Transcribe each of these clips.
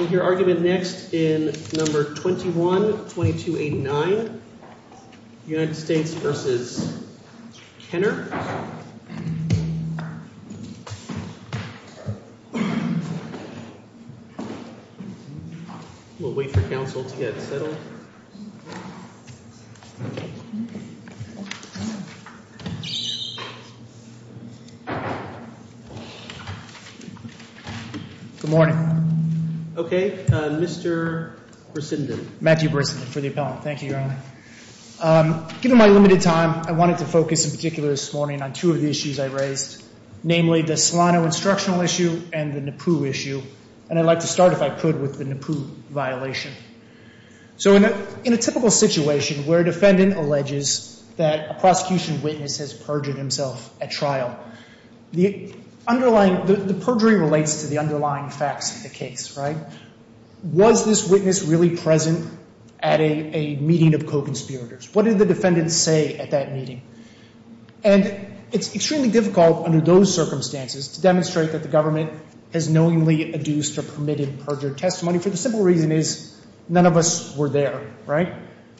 We'll wait for counsel to get settled. Good morning. Okay, Mr. Brissenden. Matthew Brissenden for the appellant. Thank you, Your Honor. Given my limited time, I wanted to focus in particular this morning on two of the issues I raised, namely the Solano instructional issue and the Nippu issue. And I'd like to start, if I could, with the Nippu violation. So in a typical situation where a defendant alleges that a prosecution witness has perjured himself at trial, the underlying, the perjury relates to the underlying facts of the case, right? Was this witness really present at a meeting of co-conspirators? What did the defendant say at that meeting? And it's extremely difficult under those circumstances to demonstrate that the government has knowingly adduced or permitted perjured testimony for the simple reason is none of us were there, right?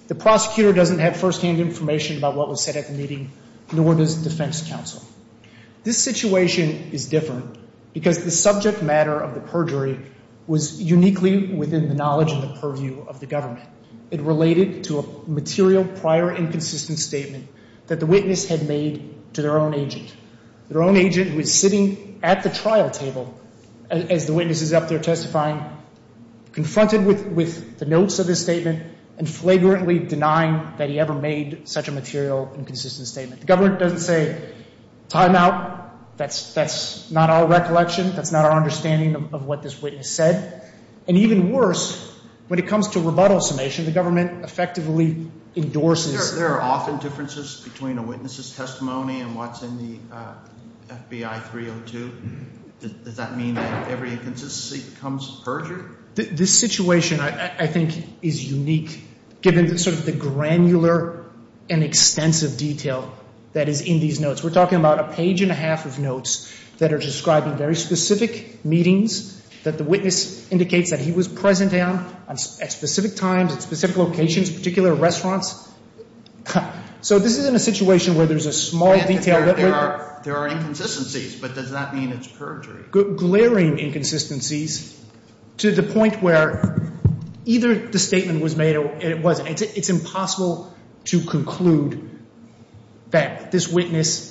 The prosecutor doesn't have firsthand information about what was said at the meeting, nor does defense counsel. This situation is different because the subject matter of the perjury was uniquely within the knowledge and the purview of the government. It related to a material prior inconsistent statement that the witness had made to their own agent. Their own agent was sitting at the trial table as the witness is up there testifying, confronted with the notes of his statement and flagrantly denying that he ever made such a material inconsistent statement. The government doesn't say timeout. That's not our recollection. That's not our understanding of what this witness said. And even worse, when it comes to rebuttal summation, the government effectively endorses. There are often differences between a witness's testimony and what's in the FBI 302. Does that mean that every inconsistency becomes perjured? This situation, I think, is unique given sort of the granular and extensive detail that is in these notes. We're talking about a page and a half of notes that are describing very specific meetings that the witness indicates that he was present at, at specific times, at specific locations, particular restaurants. So this isn't a situation where there's a small detail that we're— There are inconsistencies, but does that mean it's perjury? Glaring inconsistencies to the point where either the statement was made or it wasn't. It's impossible to conclude that this witness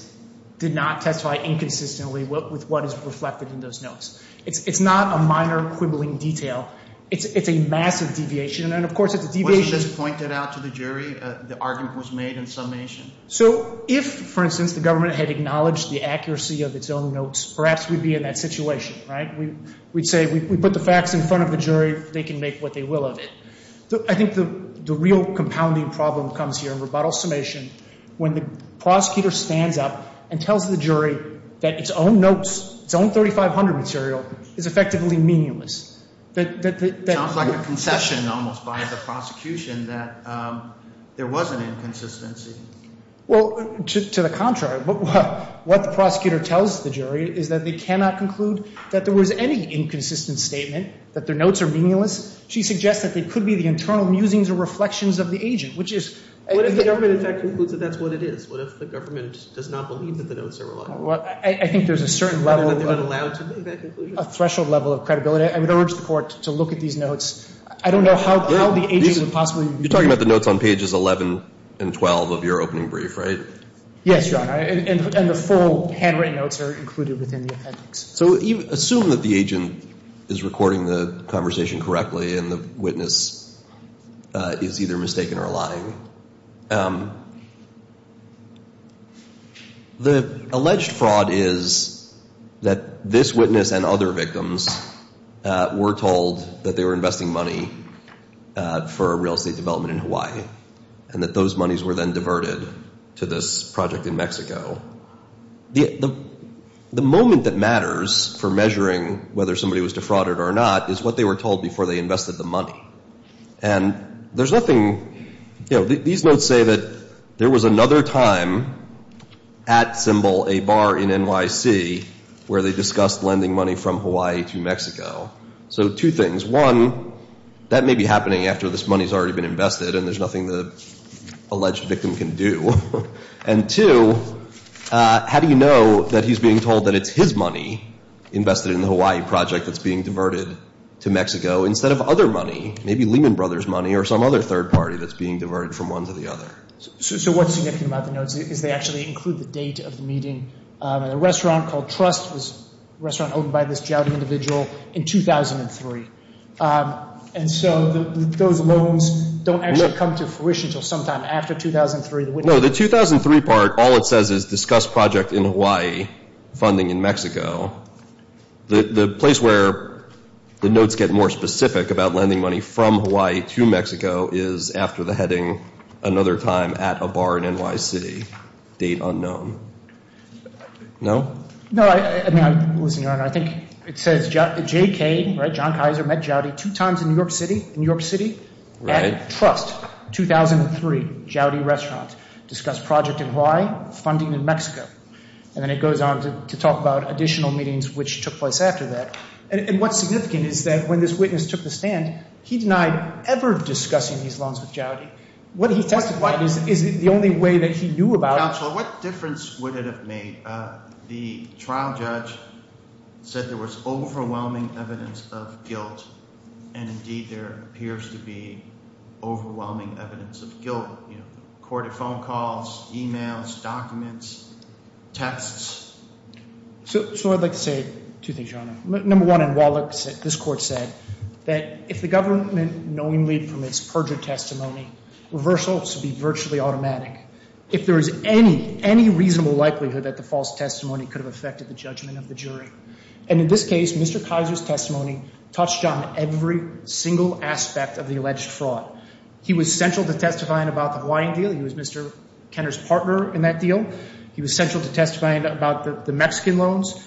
did not testify inconsistently with what is reflected in those notes. It's not a minor quibbling detail. It's a massive deviation, and of course it's a deviation— Wasn't this pointed out to the jury? The argument was made in summation. So if, for instance, the government had acknowledged the accuracy of its own notes, perhaps we'd be in that situation, right? We'd say we put the facts in front of the jury. They can make what they will of it. I think the real compounding problem comes here in rebuttal summation when the prosecutor stands up and tells the jury that its own notes, its own 3500 material, is effectively meaningless. It sounds like a concession almost by the prosecution that there was an inconsistency. Well, to the contrary. What the prosecutor tells the jury is that they cannot conclude that there was any inconsistent statement, that their notes are meaningless. She suggests that they could be the internal musings or reflections of the agent, which is— What if the government, in fact, concludes that that's what it is? What if the government does not believe that the notes are reliable? I think there's a certain level of— But they're not allowed to make that conclusion. I would urge the court to look at these notes. I don't know how the agent would possibly— You're talking about the notes on pages 11 and 12 of your opening brief, right? Yes, Your Honor, and the full handwritten notes are included within the appendix. So assume that the agent is recording the conversation correctly and the witness is either mistaken or lying. The alleged fraud is that this witness and other victims were told that they were investing money for real estate development in Hawaii and that those monies were then diverted to this project in Mexico. The moment that matters for measuring whether somebody was defrauded or not is what they were told before they invested the money. And there's nothing— These notes say that there was another time at Symbol, a bar in NYC, where they discussed lending money from Hawaii to Mexico. So two things. One, that may be happening after this money has already been invested and there's nothing the alleged victim can do. And two, how do you know that he's being told that it's his money invested in the Hawaii project that's being diverted to Mexico instead of other money, maybe Lehman Brothers money or some other third party that's being diverted from one to the other? So what's significant about the notes is they actually include the date of the meeting. A restaurant called Trust was a restaurant owned by this jowdy individual in 2003. And so those loans don't actually come to fruition until sometime after 2003. No, the 2003 part, all it says is discuss project in Hawaii, funding in Mexico. The place where the notes get more specific about lending money from Hawaii to Mexico is after the heading, another time at a bar in NYC, date unknown. No? I think it says JK, right, John Kaiser met jowdy two times in New York City, New York City. Right. At Trust, 2003, jowdy restaurant. Discuss project in Hawaii, funding in Mexico. And then it goes on to talk about additional meetings which took place after that. And what's significant is that when this witness took the stand, he denied ever discussing these loans with jowdy. What he testified is the only way that he knew about it. So what difference would it have made? The trial judge said there was overwhelming evidence of guilt. And, indeed, there appears to be overwhelming evidence of guilt. Accorded phone calls, e-mails, documents, texts. So I'd like to say two things, Your Honor. Number one, this court said that if the government knowingly permits perjured testimony, reversal should be virtually automatic. If there is any, any reasonable likelihood that the false testimony could have affected the judgment of the jury. And in this case, Mr. Kaiser's testimony touched on every single aspect of the alleged fraud. He was central to testifying about the Hawaiian deal. He was Mr. Kenner's partner in that deal. He was central to testifying about the Mexican loans.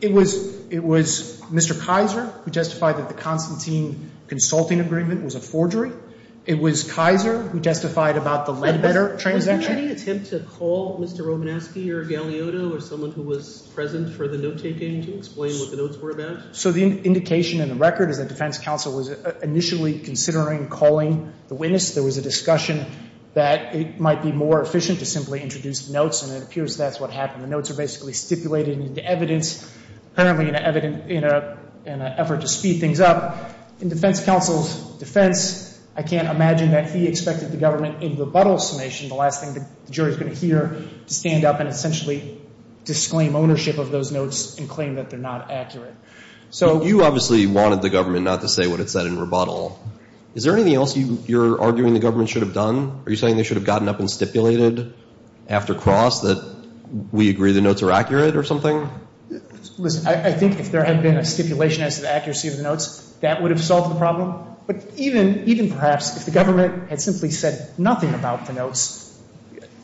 It was Mr. Kaiser who justified that the Constantine consulting agreement was a forgery. It was Kaiser who justified about the Ledbetter transaction. Was there any attempt to call Mr. Romanesky or Galeotto or someone who was present for the note-taking to explain what the notes were about? So the indication in the record is that defense counsel was initially considering calling the witness. There was a discussion that it might be more efficient to simply introduce notes, and it appears that's what happened. The notes are basically stipulated into evidence, apparently in an effort to speed things up. In defense counsel's defense, I can't imagine that he expected the government in rebuttal summation, the last thing the jury is going to hear, to stand up and essentially disclaim ownership of those notes and claim that they're not accurate. So you obviously wanted the government not to say what it said in rebuttal. Is there anything else you're arguing the government should have done? Are you saying they should have gotten up and stipulated after cross that we agree the notes are accurate or something? Listen, I think if there had been a stipulation as to the accuracy of the notes, that would have solved the problem. But even perhaps if the government had simply said nothing about the notes,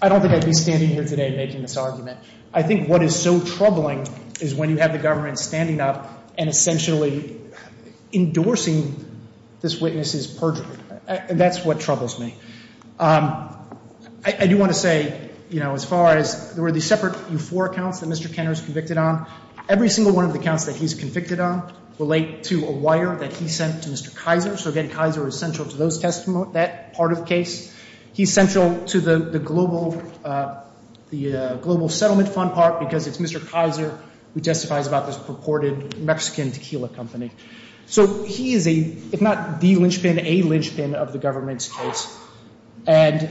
I don't think I'd be standing here today making this argument. I think what is so troubling is when you have the government standing up and essentially endorsing this witness's perjury. That's what troubles me. I do want to say, you know, as far as there were these separate U4 accounts that Mr. Kenner is convicted on. Every single one of the accounts that he's convicted on relate to a wire that he sent to Mr. Kaiser. So again, Kaiser is central to that part of the case. He's central to the global settlement fund part because it's Mr. Kaiser who testifies about this purported Mexican tequila company. So he is a, if not the linchpin, a linchpin of the government's case. And,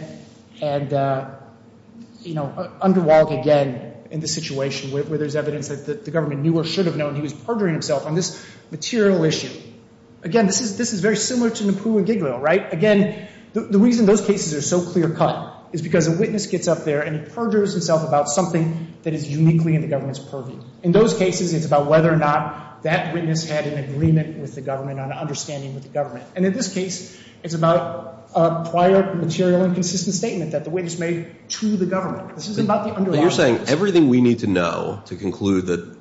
you know, underwhelmed again in the situation where there's evidence that the government knew or should have known he was perjuring himself on this material issue. Again, this is very similar to Napoo and Giglio, right? Again, the reason those cases are so clear cut is because a witness gets up there and he perjures himself about something that is uniquely in the government's purview. In those cases, it's about whether or not that witness had an agreement with the government, an understanding with the government. And in this case, it's about a prior material and consistent statement that the witness made to the government. This isn't about the underlying evidence. But you're saying everything we need to know to conclude that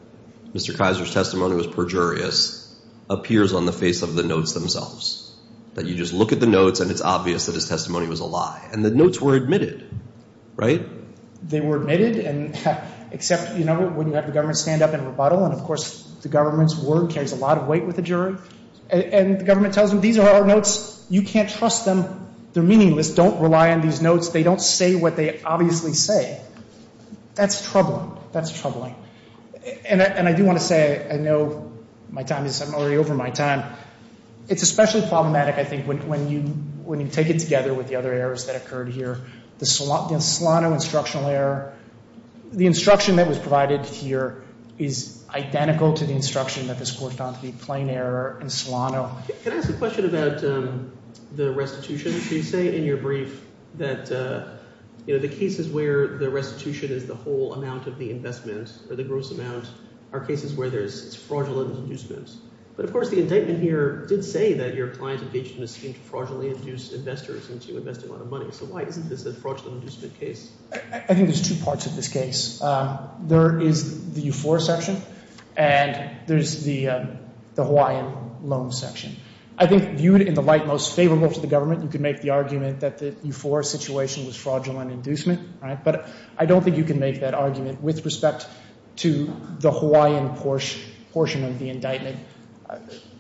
Mr. Kaiser's testimony was perjurious appears on the face of the notes themselves. That you just look at the notes and it's obvious that his testimony was a lie. And the notes were admitted, right? They were admitted and except, you know, when you have the government stand up and rebuttal. And, of course, the government's word carries a lot of weight with the jury. And the government tells them these are our notes. You can't trust them. They're meaningless. Don't rely on these notes. They don't say what they obviously say. That's troubling. That's troubling. And I do want to say I know my time is already over my time. It's especially problematic, I think, when you take it together with the other errors that occurred here. The Solano instructional error. The instruction that was provided here is identical to the instruction that this court found to be plain error in Solano. Can I ask a question about the restitution? You say in your brief that, you know, the cases where the restitution is the whole amount of the investment or the gross amount are cases where there's fraudulent inducements. But, of course, the indictment here did say that your client engaged in a scheme to fraudulently induce investors into investing a lot of money. So why isn't this a fraudulent inducement case? I think there's two parts of this case. There is the Euphoria section, and there's the Hawaiian loan section. I think viewed in the light most favorable to the government, you could make the argument that the Euphoria situation was fraudulent inducement. But I don't think you can make that argument with respect to the Hawaiian portion of the indictment.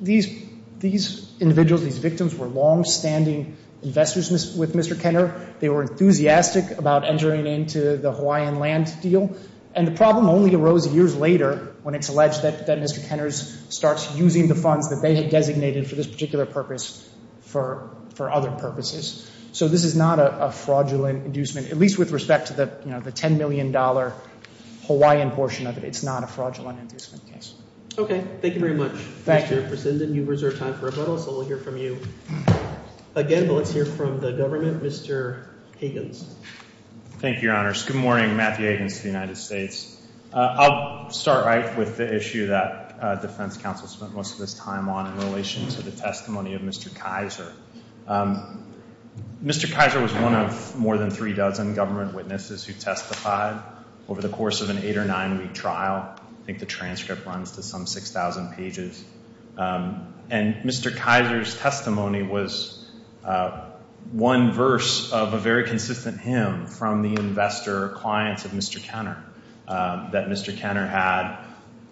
These individuals, these victims were longstanding investors with Mr. Kenner. They were enthusiastic about entering into the Hawaiian land deal. And the problem only arose years later when it's alleged that Mr. Kenner starts using the funds that they had designated for this particular purpose for other purposes. So this is not a fraudulent inducement, at least with respect to the $10 million Hawaiian portion of it. It's not a fraudulent inducement case. Okay. Thank you very much. Mr. Presinden, you've reserved time for rebuttals, so we'll hear from you again. But let's hear from the government. Mr. Higgins. Thank you, Your Honors. Good morning. Matthew Higgins of the United States. I'll start right with the issue that defense counsel spent most of his time on in relation to the testimony of Mr. Kaiser. Mr. Kaiser was one of more than three dozen government witnesses who testified over the course of an eight- or nine-week trial. I think the transcript runs to some 6,000 pages. And Mr. Kaiser's testimony was one verse of a very consistent hymn from the investor or clients of Mr. Kenner, that Mr. Kenner had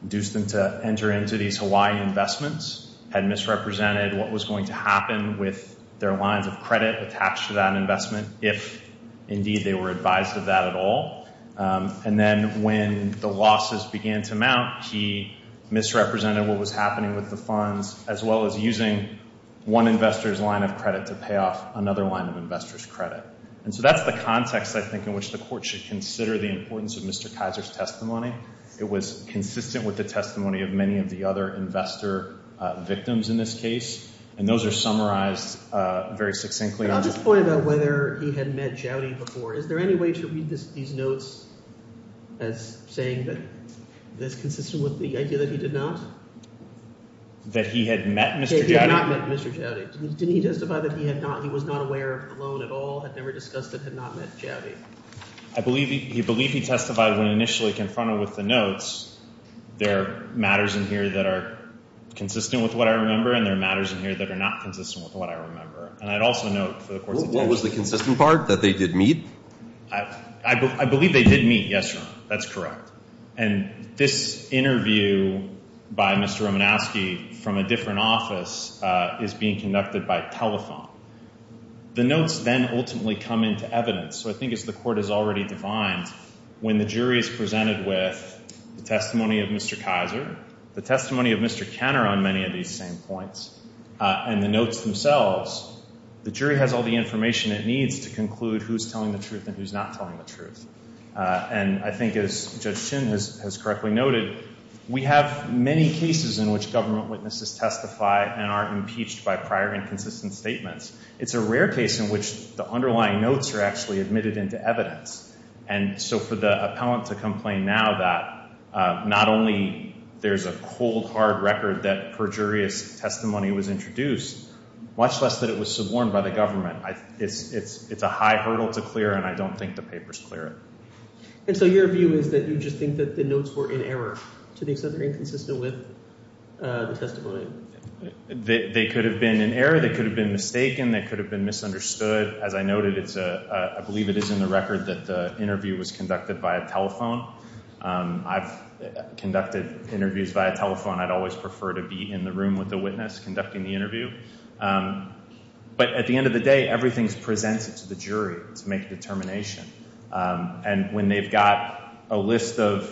induced them to enter into these Hawaiian investments, had misrepresented what was going to happen with their lines of credit attached to that investment if, indeed, they were advised of that at all. And then when the losses began to mount, he misrepresented what was happening with the funds, as well as using one investor's line of credit to pay off another line of investor's credit. And so that's the context, I think, in which the Court should consider the importance of Mr. Kaiser's testimony. It was consistent with the testimony of many of the other investor victims in this case, and those are summarized very succinctly. I'll just point out whether he had met Joudy before. Is there any way to read these notes as saying that this is consistent with the idea that he did not? That he had met Mr. Joudy? That he had not met Mr. Joudy. Didn't he testify that he was not aware of the loan at all, had never discussed it, had not met Joudy? I believe he testified when initially confronted with the notes, there are matters in here that are consistent with what I remember, and there are matters in here that are not consistent with what I remember. What was the consistent part, that they did meet? I believe they did meet, yes, Your Honor. That's correct. And this interview by Mr. Romanowski from a different office is being conducted by telephone. The notes then ultimately come into evidence, so I think as the Court has already defined, when the jury is presented with the testimony of Mr. Kaiser, the testimony of Mr. Kenner on many of these same points, and the notes themselves, the jury has all the information it needs to conclude who's telling the truth and who's not telling the truth. And I think as Judge Chin has correctly noted, we have many cases in which government witnesses testify and are impeached by prior inconsistent statements. It's a rare case in which the underlying notes are actually admitted into evidence. And so for the appellant to complain now that not only there's a cold, hard record that perjurious testimony was introduced, much less that it was suborned by the government, it's a high hurdle to clear, and I don't think the papers clear it. And so your view is that you just think that the notes were in error to the extent they're inconsistent with the testimony? They could have been in error. They could have been mistaken. They could have been misunderstood. As I noted, I believe it is in the record that the interview was conducted via telephone. I've conducted interviews via telephone. I'd always prefer to be in the room with the witness conducting the interview. But at the end of the day, everything is presented to the jury to make a determination. And when they've got a list of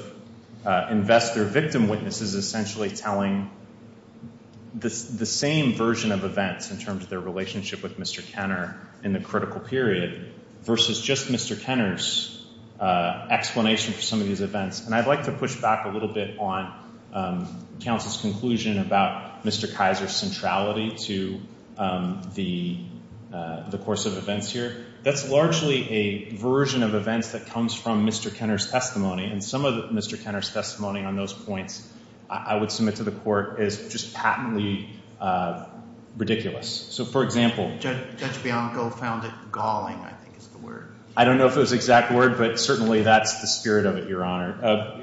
investor victim witnesses essentially telling the same version of events in terms of their relationship with Mr. Kenner in the critical period versus just Mr. Kenner's explanation for some of these events. And I'd like to push back a little bit on counsel's conclusion about Mr. Kaiser's centrality to the course of events here. That's largely a version of events that comes from Mr. Kenner's testimony. And some of Mr. Kenner's testimony on those points I would submit to the court is just patently ridiculous. So, for example. Judge Bianco found it galling, I think is the word. I don't know if it was the exact word, but certainly that's the spirit of it, Your Honor.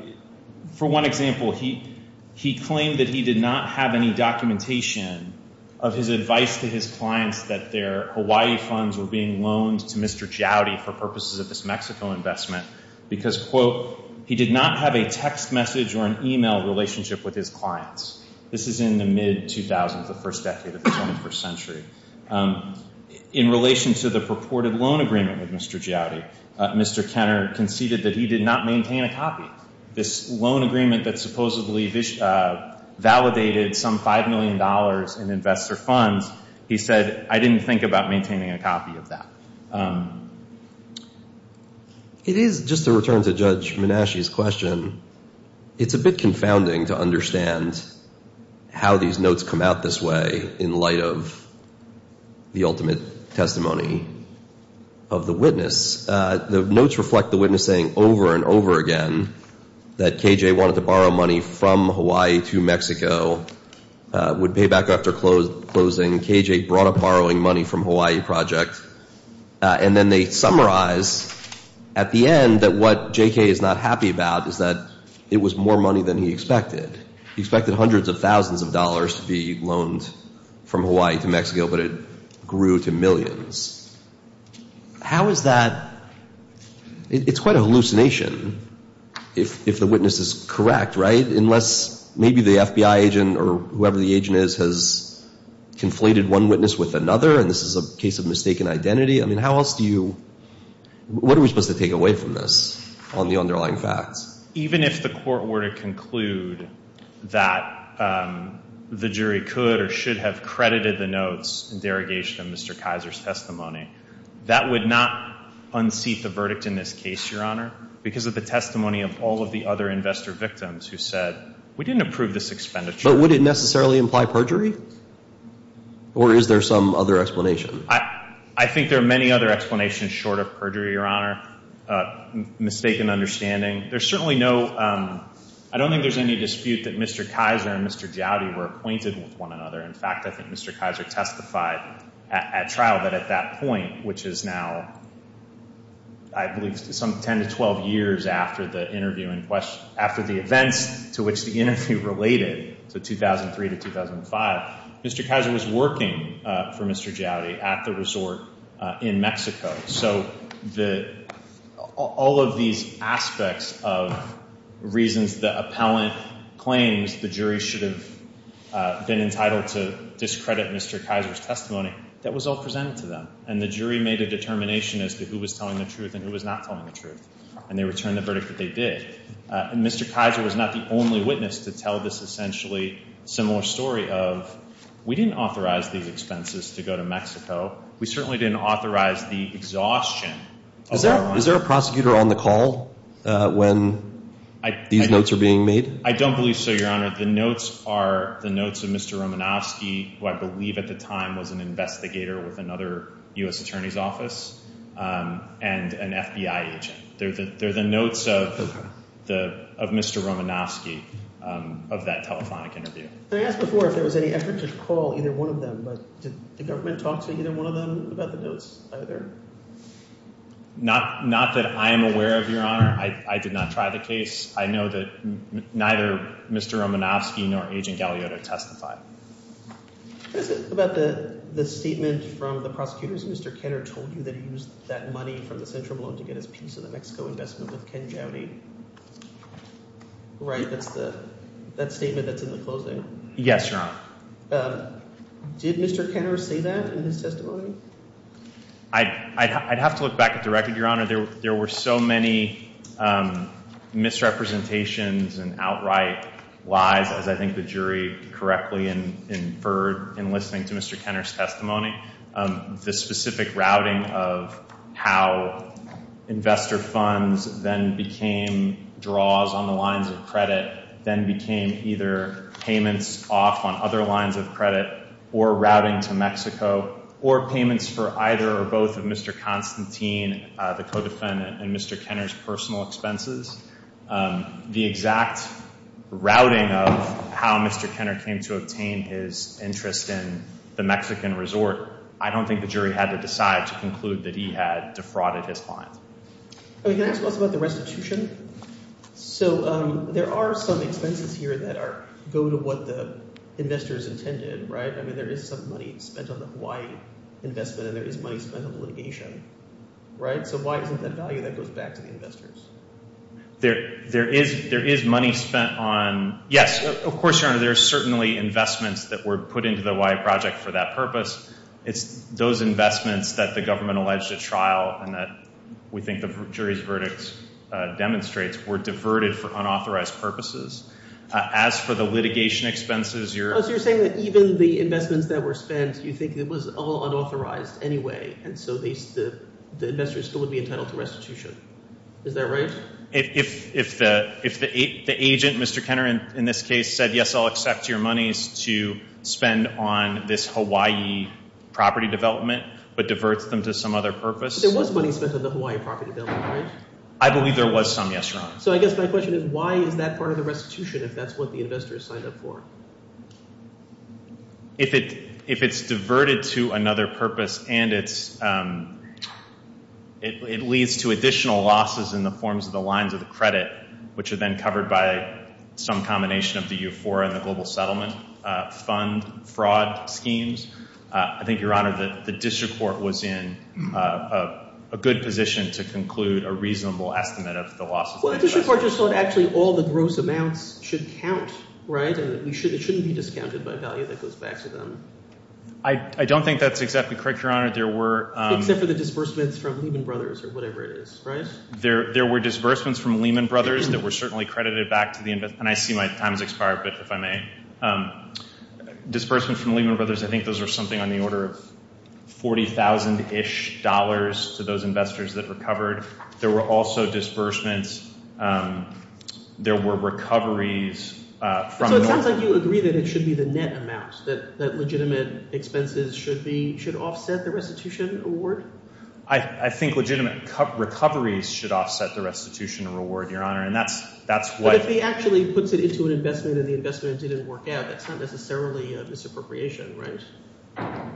For one example, he claimed that he did not have any documentation of his advice to his clients that their Hawaii funds were being loaned to Mr. Jowdy for purposes of this Mexico investment. Because, quote, he did not have a text message or an email relationship with his clients. This is in the mid-2000s, the first decade of the 21st century. In relation to the purported loan agreement with Mr. Jowdy, Mr. Kenner conceded that he did not maintain a copy. This loan agreement that supposedly validated some $5 million in investor funds, he said, I didn't think about maintaining a copy of that. It is, just to return to Judge Menasche's question, it's a bit confounding to understand how these notes come out this way in light of the ultimate testimony of the witness. The notes reflect the witness saying over and over again that K.J. wanted to borrow money from Hawaii to Mexico, would pay back after closing. K.J. brought up borrowing money from Hawaii Project. And then they summarize at the end that what J.K. is not happy about is that it was more money than he expected. He expected hundreds of thousands of dollars to be loaned from Hawaii to Mexico, but it grew to millions. How is that, it's quite a hallucination if the witness is correct, right? Unless maybe the FBI agent or whoever the agent is has conflated one witness with another, and this is a case of mistaken identity. I mean, how else do you, what are we supposed to take away from this on the underlying facts? Even if the court were to conclude that the jury could or should have credited the notes in derogation of Mr. Kaiser's testimony, that would not unseat the verdict in this case, Your Honor, because of the testimony of all of the other investor victims who said, we didn't approve this expenditure. But would it necessarily imply perjury? Or is there some other explanation? I think there are many other explanations short of perjury, Your Honor, mistaken understanding. There's certainly no, I don't think there's any dispute that Mr. Kaiser and Mr. Gowdy were acquainted with one another. In fact, I think Mr. Kaiser testified at trial that at that point, which is now, I believe, some 10 to 12 years after the interview, after the events to which the interview related to 2003 to 2005, Mr. Kaiser was working for Mr. Gowdy at the resort in Mexico. So all of these aspects of reasons the appellant claims the jury should have been entitled to discredit Mr. Kaiser's testimony, that was all presented to them. And the jury made a determination as to who was telling the truth and who was not telling the truth. And they returned the verdict that they did. And Mr. Kaiser was not the only witness to tell this essentially similar story of, we didn't authorize these expenses to go to Mexico. We certainly didn't authorize the exhaustion. Is there a prosecutor on the call when these notes are being made? I don't believe so, Your Honor. The notes are the notes of Mr. Romanofsky, who I believe at the time was an investigator with another U.S. attorney's office, and an FBI agent. They're the notes of Mr. Romanofsky of that telephonic interview. I asked before if there was any effort to recall either one of them, but did the government talk to either one of them about the notes either? Not that I am aware of, Your Honor. I did not try the case. I know that neither Mr. Romanofsky nor Agent Galeota testified. What is it about the statement from the prosecutors? Mr. Kenner told you that he used that money from the central loan to get his piece of the Mexico investment with Ken Gowdy, right? That's the statement that's in the closing? Yes, Your Honor. Did Mr. Kenner say that in his testimony? I'd have to look back at the record, Your Honor. There were so many misrepresentations and outright lies, as I think the jury correctly inferred in listening to Mr. Kenner's testimony. The specific routing of how investor funds then became draws on the lines of credit, then became either payments off on other lines of credit or routing to Mexico, or payments for either or both of Mr. Constantine, the co-defendant, and Mr. Kenner's personal expenses. The exact routing of how Mr. Kenner came to obtain his interest in the Mexican resort, I don't think the jury had to decide to conclude that he had defrauded his client. Can I ask about the restitution? So there are some expenses here that go to what the investors intended, right? I mean, there is some money spent on the Hawaii investment, and there is money spent on litigation, right? So why isn't that value that goes back to the investors? There is money spent on—yes, of course, Your Honor, there are certainly investments that were put into the Hawaii project for that purpose. It's those investments that the government alleged at trial and that we think the jury's verdict demonstrates were diverted for unauthorized purposes. As for the litigation expenses, you're— So you're saying that even the investments that were spent, you think it was all unauthorized anyway, and so the investors still would be entitled to restitution. Is that right? If the agent, Mr. Kenner in this case, said, yes, I'll accept your monies to spend on this Hawaii property development, but diverts them to some other purpose— But there was money spent on the Hawaii property development, right? I believe there was some, yes, Your Honor. So I guess my question is why is that part of the restitution if that's what the investors signed up for? If it's diverted to another purpose and it's—it leads to additional losses in the forms of the lines of the credit, which are then covered by some combination of the EUFORA and the Global Settlement Fund fraud schemes, I think, Your Honor, the district court was in a good position to conclude a reasonable estimate of the losses. Well, the district court just thought actually all the gross amounts should count, right, and that it shouldn't be discounted by value that goes back to them. I don't think that's exactly correct, Your Honor. There were— Except for the disbursements from Lehman Brothers or whatever it is, right? There were disbursements from Lehman Brothers that were certainly credited back to the— and I see my time has expired, but if I may, disbursements from Lehman Brothers, I think those were something on the order of $40,000-ish to those investors that recovered. There were also disbursements. There were recoveries from— So it sounds like you agree that it should be the net amount, that legitimate expenses should be—should offset the restitution award? I think legitimate recoveries should offset the restitution reward, Your Honor, and that's why— But if he actually puts it into an investment and the investment didn't work out, that's not necessarily a misappropriation, right?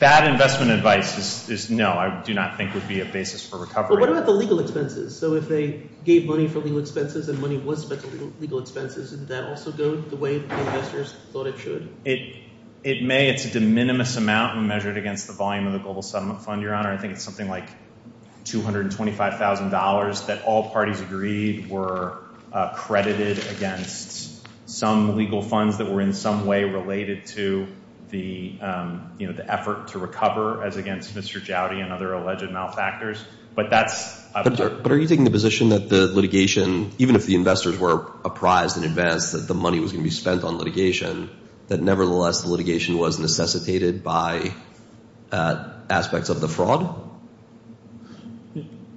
Bad investment advice is no. I do not think it would be a basis for recovery. But what about the legal expenses? So if they gave money for legal expenses and money was spent on legal expenses, didn't that also go the way the investors thought it should? It may. It's a de minimis amount measured against the volume of the Global Settlement Fund, Your Honor. I think it's something like $225,000 that all parties agreed were credited against some legal funds that were in some way related to the effort to recover as against Mr. Jowdy and other alleged malfactors. But that's— But are you taking the position that the litigation, even if the investors were apprised in advance that the money was going to be spent on litigation, that nevertheless the litigation was necessitated by aspects of the fraud?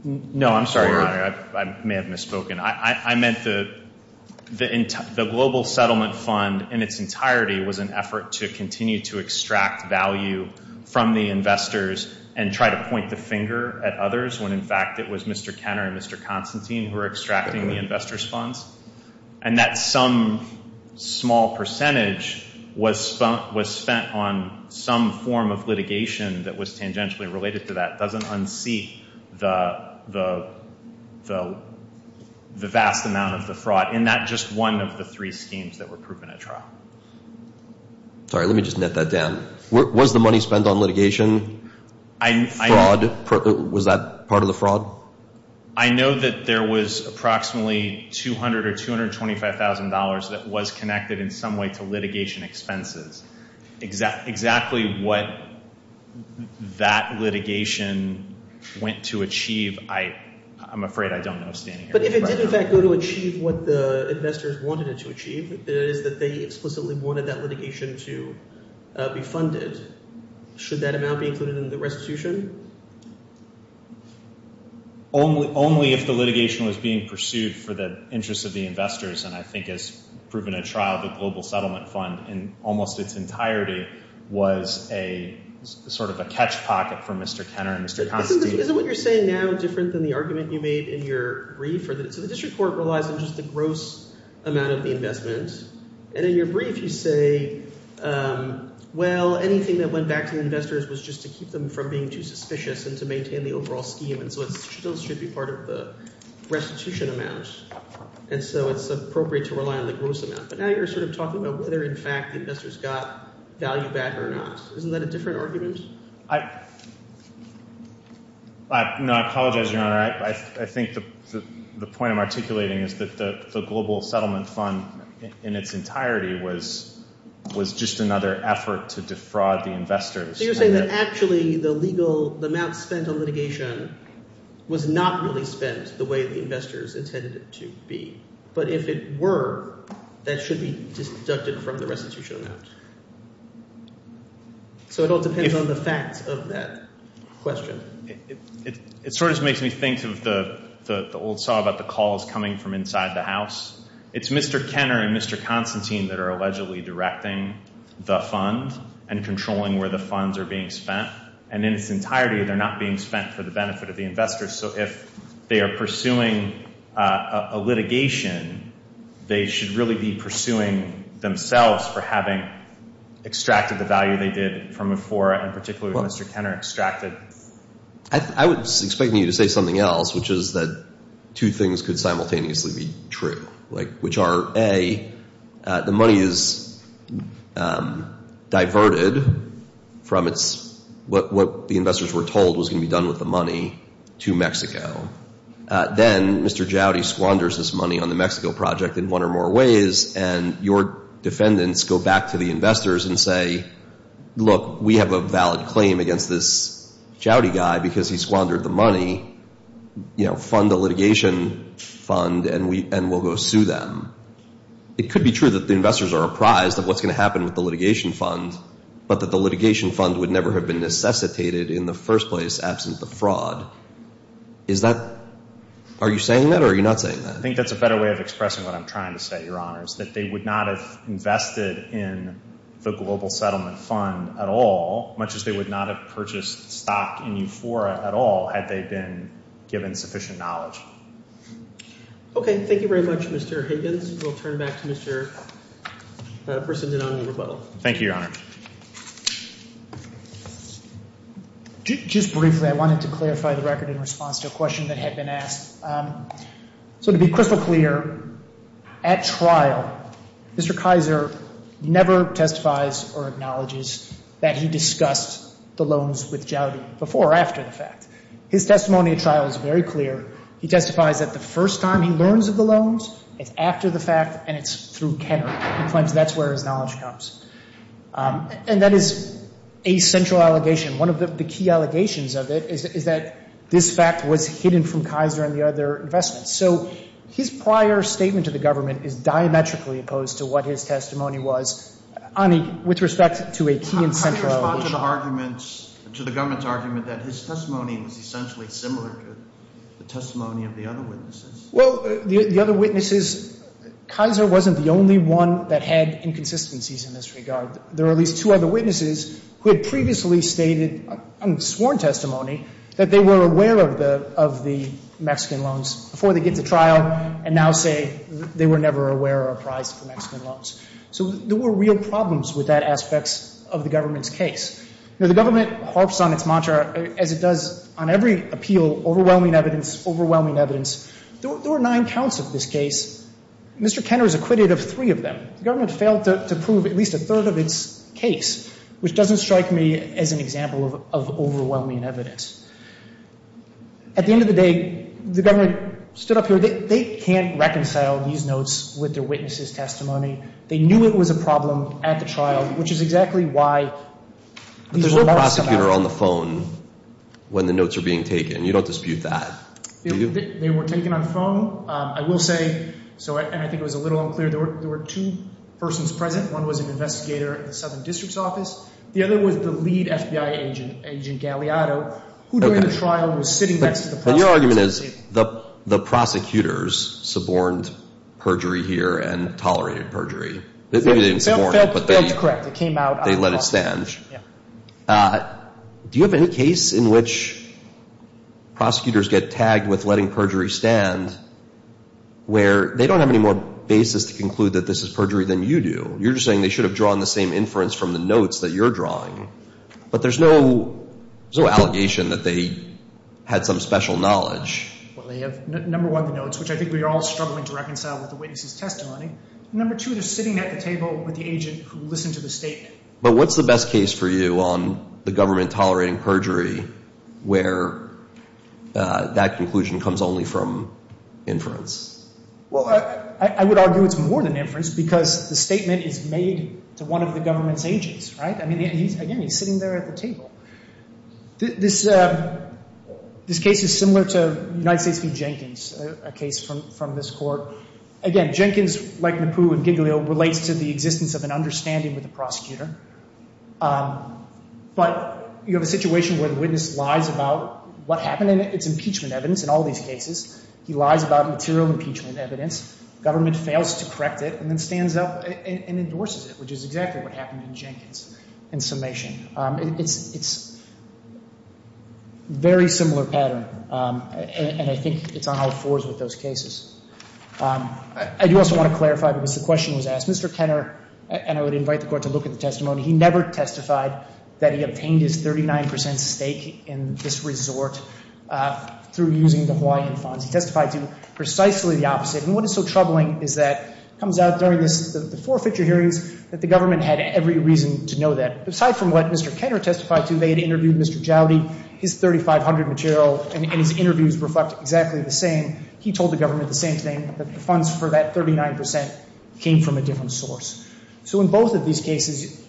No, I'm sorry, Your Honor. I may have misspoken. I meant the Global Settlement Fund in its entirety was an effort to continue to extract value from the investors and try to point the finger at others when, in fact, it was Mr. Kenner and Mr. Constantine who were extracting the investors' funds. And that some small percentage was spent on some form of litigation that was tangentially related to that doesn't unseat the vast amount of the fraud in that just one of the three schemes that were proven at trial. Sorry, let me just net that down. Was the money spent on litigation fraud? Was that part of the fraud? I know that there was approximately $200,000 or $225,000 that was connected in some way to litigation expenses. Exactly what that litigation went to achieve, I'm afraid I don't know standing here. But if it did, in fact, go to achieve what the investors wanted it to achieve, that is that they explicitly wanted that litigation to be funded, should that amount be included in the restitution? Only if the litigation was being pursued for the interests of the investors. And I think as proven at trial, the Global Settlement Fund in almost its entirety was a sort of a catch pocket for Mr. Kenner and Mr. Constantine. Isn't what you're saying now different than the argument you made in your brief? So the district court relies on just the gross amount of the investment. And in your brief you say, well, anything that went back to the investors was just to keep them from being too suspicious and to maintain the overall scheme. And so it still should be part of the restitution amount. And so it's appropriate to rely on the gross amount. But now you're sort of talking about whether, in fact, the investors got value back or not. Isn't that a different argument? No, I apologize, Your Honor. I think the point I'm articulating is that the Global Settlement Fund in its entirety was just another effort to defraud the investors. So you're saying that actually the legal – the amount spent on litigation was not really spent the way the investors intended it to be. But if it were, that should be deducted from the restitution amount. So it all depends on the facts of that question. It sort of makes me think of the old saw about the calls coming from inside the house. It's Mr. Kenner and Mr. Constantine that are allegedly directing the fund and controlling where the funds are being spent. And in its entirety, they're not being spent for the benefit of the investors. So if they are pursuing a litigation, they should really be pursuing themselves for having extracted the value they did from EFORA and particularly what Mr. Kenner extracted. I was expecting you to say something else, which is that two things could simultaneously be true, which are, A, the money is diverted from its – Then Mr. Jowdy squanders this money on the Mexico project in one or more ways and your defendants go back to the investors and say, Look, we have a valid claim against this Jowdy guy because he squandered the money. You know, fund the litigation fund and we'll go sue them. It could be true that the investors are apprised of what's going to happen with the litigation fund, but that the litigation fund would never have been necessitated in the first place absent the fraud. Is that – are you saying that or are you not saying that? I think that's a better way of expressing what I'm trying to say, Your Honors, that they would not have invested in the global settlement fund at all, much as they would not have purchased stock in EFORA at all had they been given sufficient knowledge. Okay, thank you very much, Mr. Higgins. We'll turn it back to Mr. Brissenden on the rebuttal. Thank you, Your Honor. Just briefly, I wanted to clarify the record in response to a question that had been asked. So to be crystal clear, at trial, Mr. Kaiser never testifies or acknowledges that he discussed the loans with Jowdy before or after the fact. His testimony at trial is very clear. He testifies that the first time he learns of the loans, it's after the fact and it's through Kenner. He claims that's where his knowledge comes. And that is a central allegation. One of the key allegations of it is that this fact was hidden from Kaiser and the other investments. So his prior statement to the government is diametrically opposed to what his testimony was. Ani, with respect to a key and central allegation. I'm trying to respond to the arguments – to the government's argument that his testimony was essentially similar to the testimony of the other witnesses. Well, the other witnesses – Kaiser wasn't the only one that had inconsistencies in this regard. There were at least two other witnesses who had previously stated on sworn testimony that they were aware of the Mexican loans before they get to trial and now say they were never aware or apprised of the Mexican loans. So there were real problems with that aspect of the government's case. The government harps on its mantra, as it does on every appeal, overwhelming evidence, overwhelming evidence. There were nine counts of this case. Mr. Kenner is acquitted of three of them. The government failed to prove at least a third of its case, which doesn't strike me as an example of overwhelming evidence. At the end of the day, the government stood up here. They knew it was a problem at the trial, which is exactly why these remarks about – But there was a prosecutor on the phone when the notes were being taken. You don't dispute that, do you? They were taken on the phone. I will say – and I think it was a little unclear – there were two persons present. One was an investigator at the Southern District's office. The other was the lead FBI agent, Agent Galeado, who during the trial was sitting next to the prosecutor. Your argument is the prosecutors suborned perjury here and tolerated perjury. Maybe they didn't suborn it, but they let it stand. Do you have any case in which prosecutors get tagged with letting perjury stand where they don't have any more basis to conclude that this is perjury than you do? You're just saying they should have drawn the same inference from the notes that you're drawing. But there's no allegation that they had some special knowledge. Well, they have, number one, the notes, which I think we are all struggling to reconcile with the witness's testimony. Number two, they're sitting at the table with the agent who listened to the statement. But what's the best case for you on the government tolerating perjury where that conclusion comes only from inference? Well, I would argue it's more than inference because the statement is made to one of the government's agents, right? I mean, again, he's sitting there at the table. This case is similar to United States v. Jenkins, a case from this court. Again, Jenkins, like Napoo and Giglio, relates to the existence of an understanding with the prosecutor. But you have a situation where the witness lies about what happened in it. It's impeachment evidence in all these cases. He lies about material impeachment evidence. Government fails to correct it and then stands up and endorses it, which is exactly what happened in Jenkins in summation. It's a very similar pattern, and I think it's on all fours with those cases. I do also want to clarify because the question was asked. Mr. Kenner, and I would invite the court to look at the testimony, he never testified that he obtained his 39 percent stake in this resort through using the Hawaiian funds. He testified to precisely the opposite. And what is so troubling is that it comes out during the four fixture hearings that the government had every reason to know that. Aside from what Mr. Kenner testified to, they had interviewed Mr. Joudy, his 3,500 material, and his interviews reflect exactly the same. He told the government the same thing, that the funds for that 39 percent came from a different source. So in both of these cases,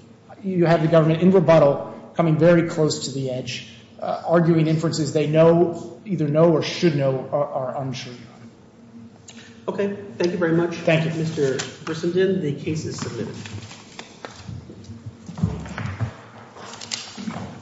you have the government in rebuttal coming very close to the edge, arguing inferences they know, either know or should know or are unsure of. Okay. Thank you very much. Thank you. Mr. Grissomden, the case is submitted.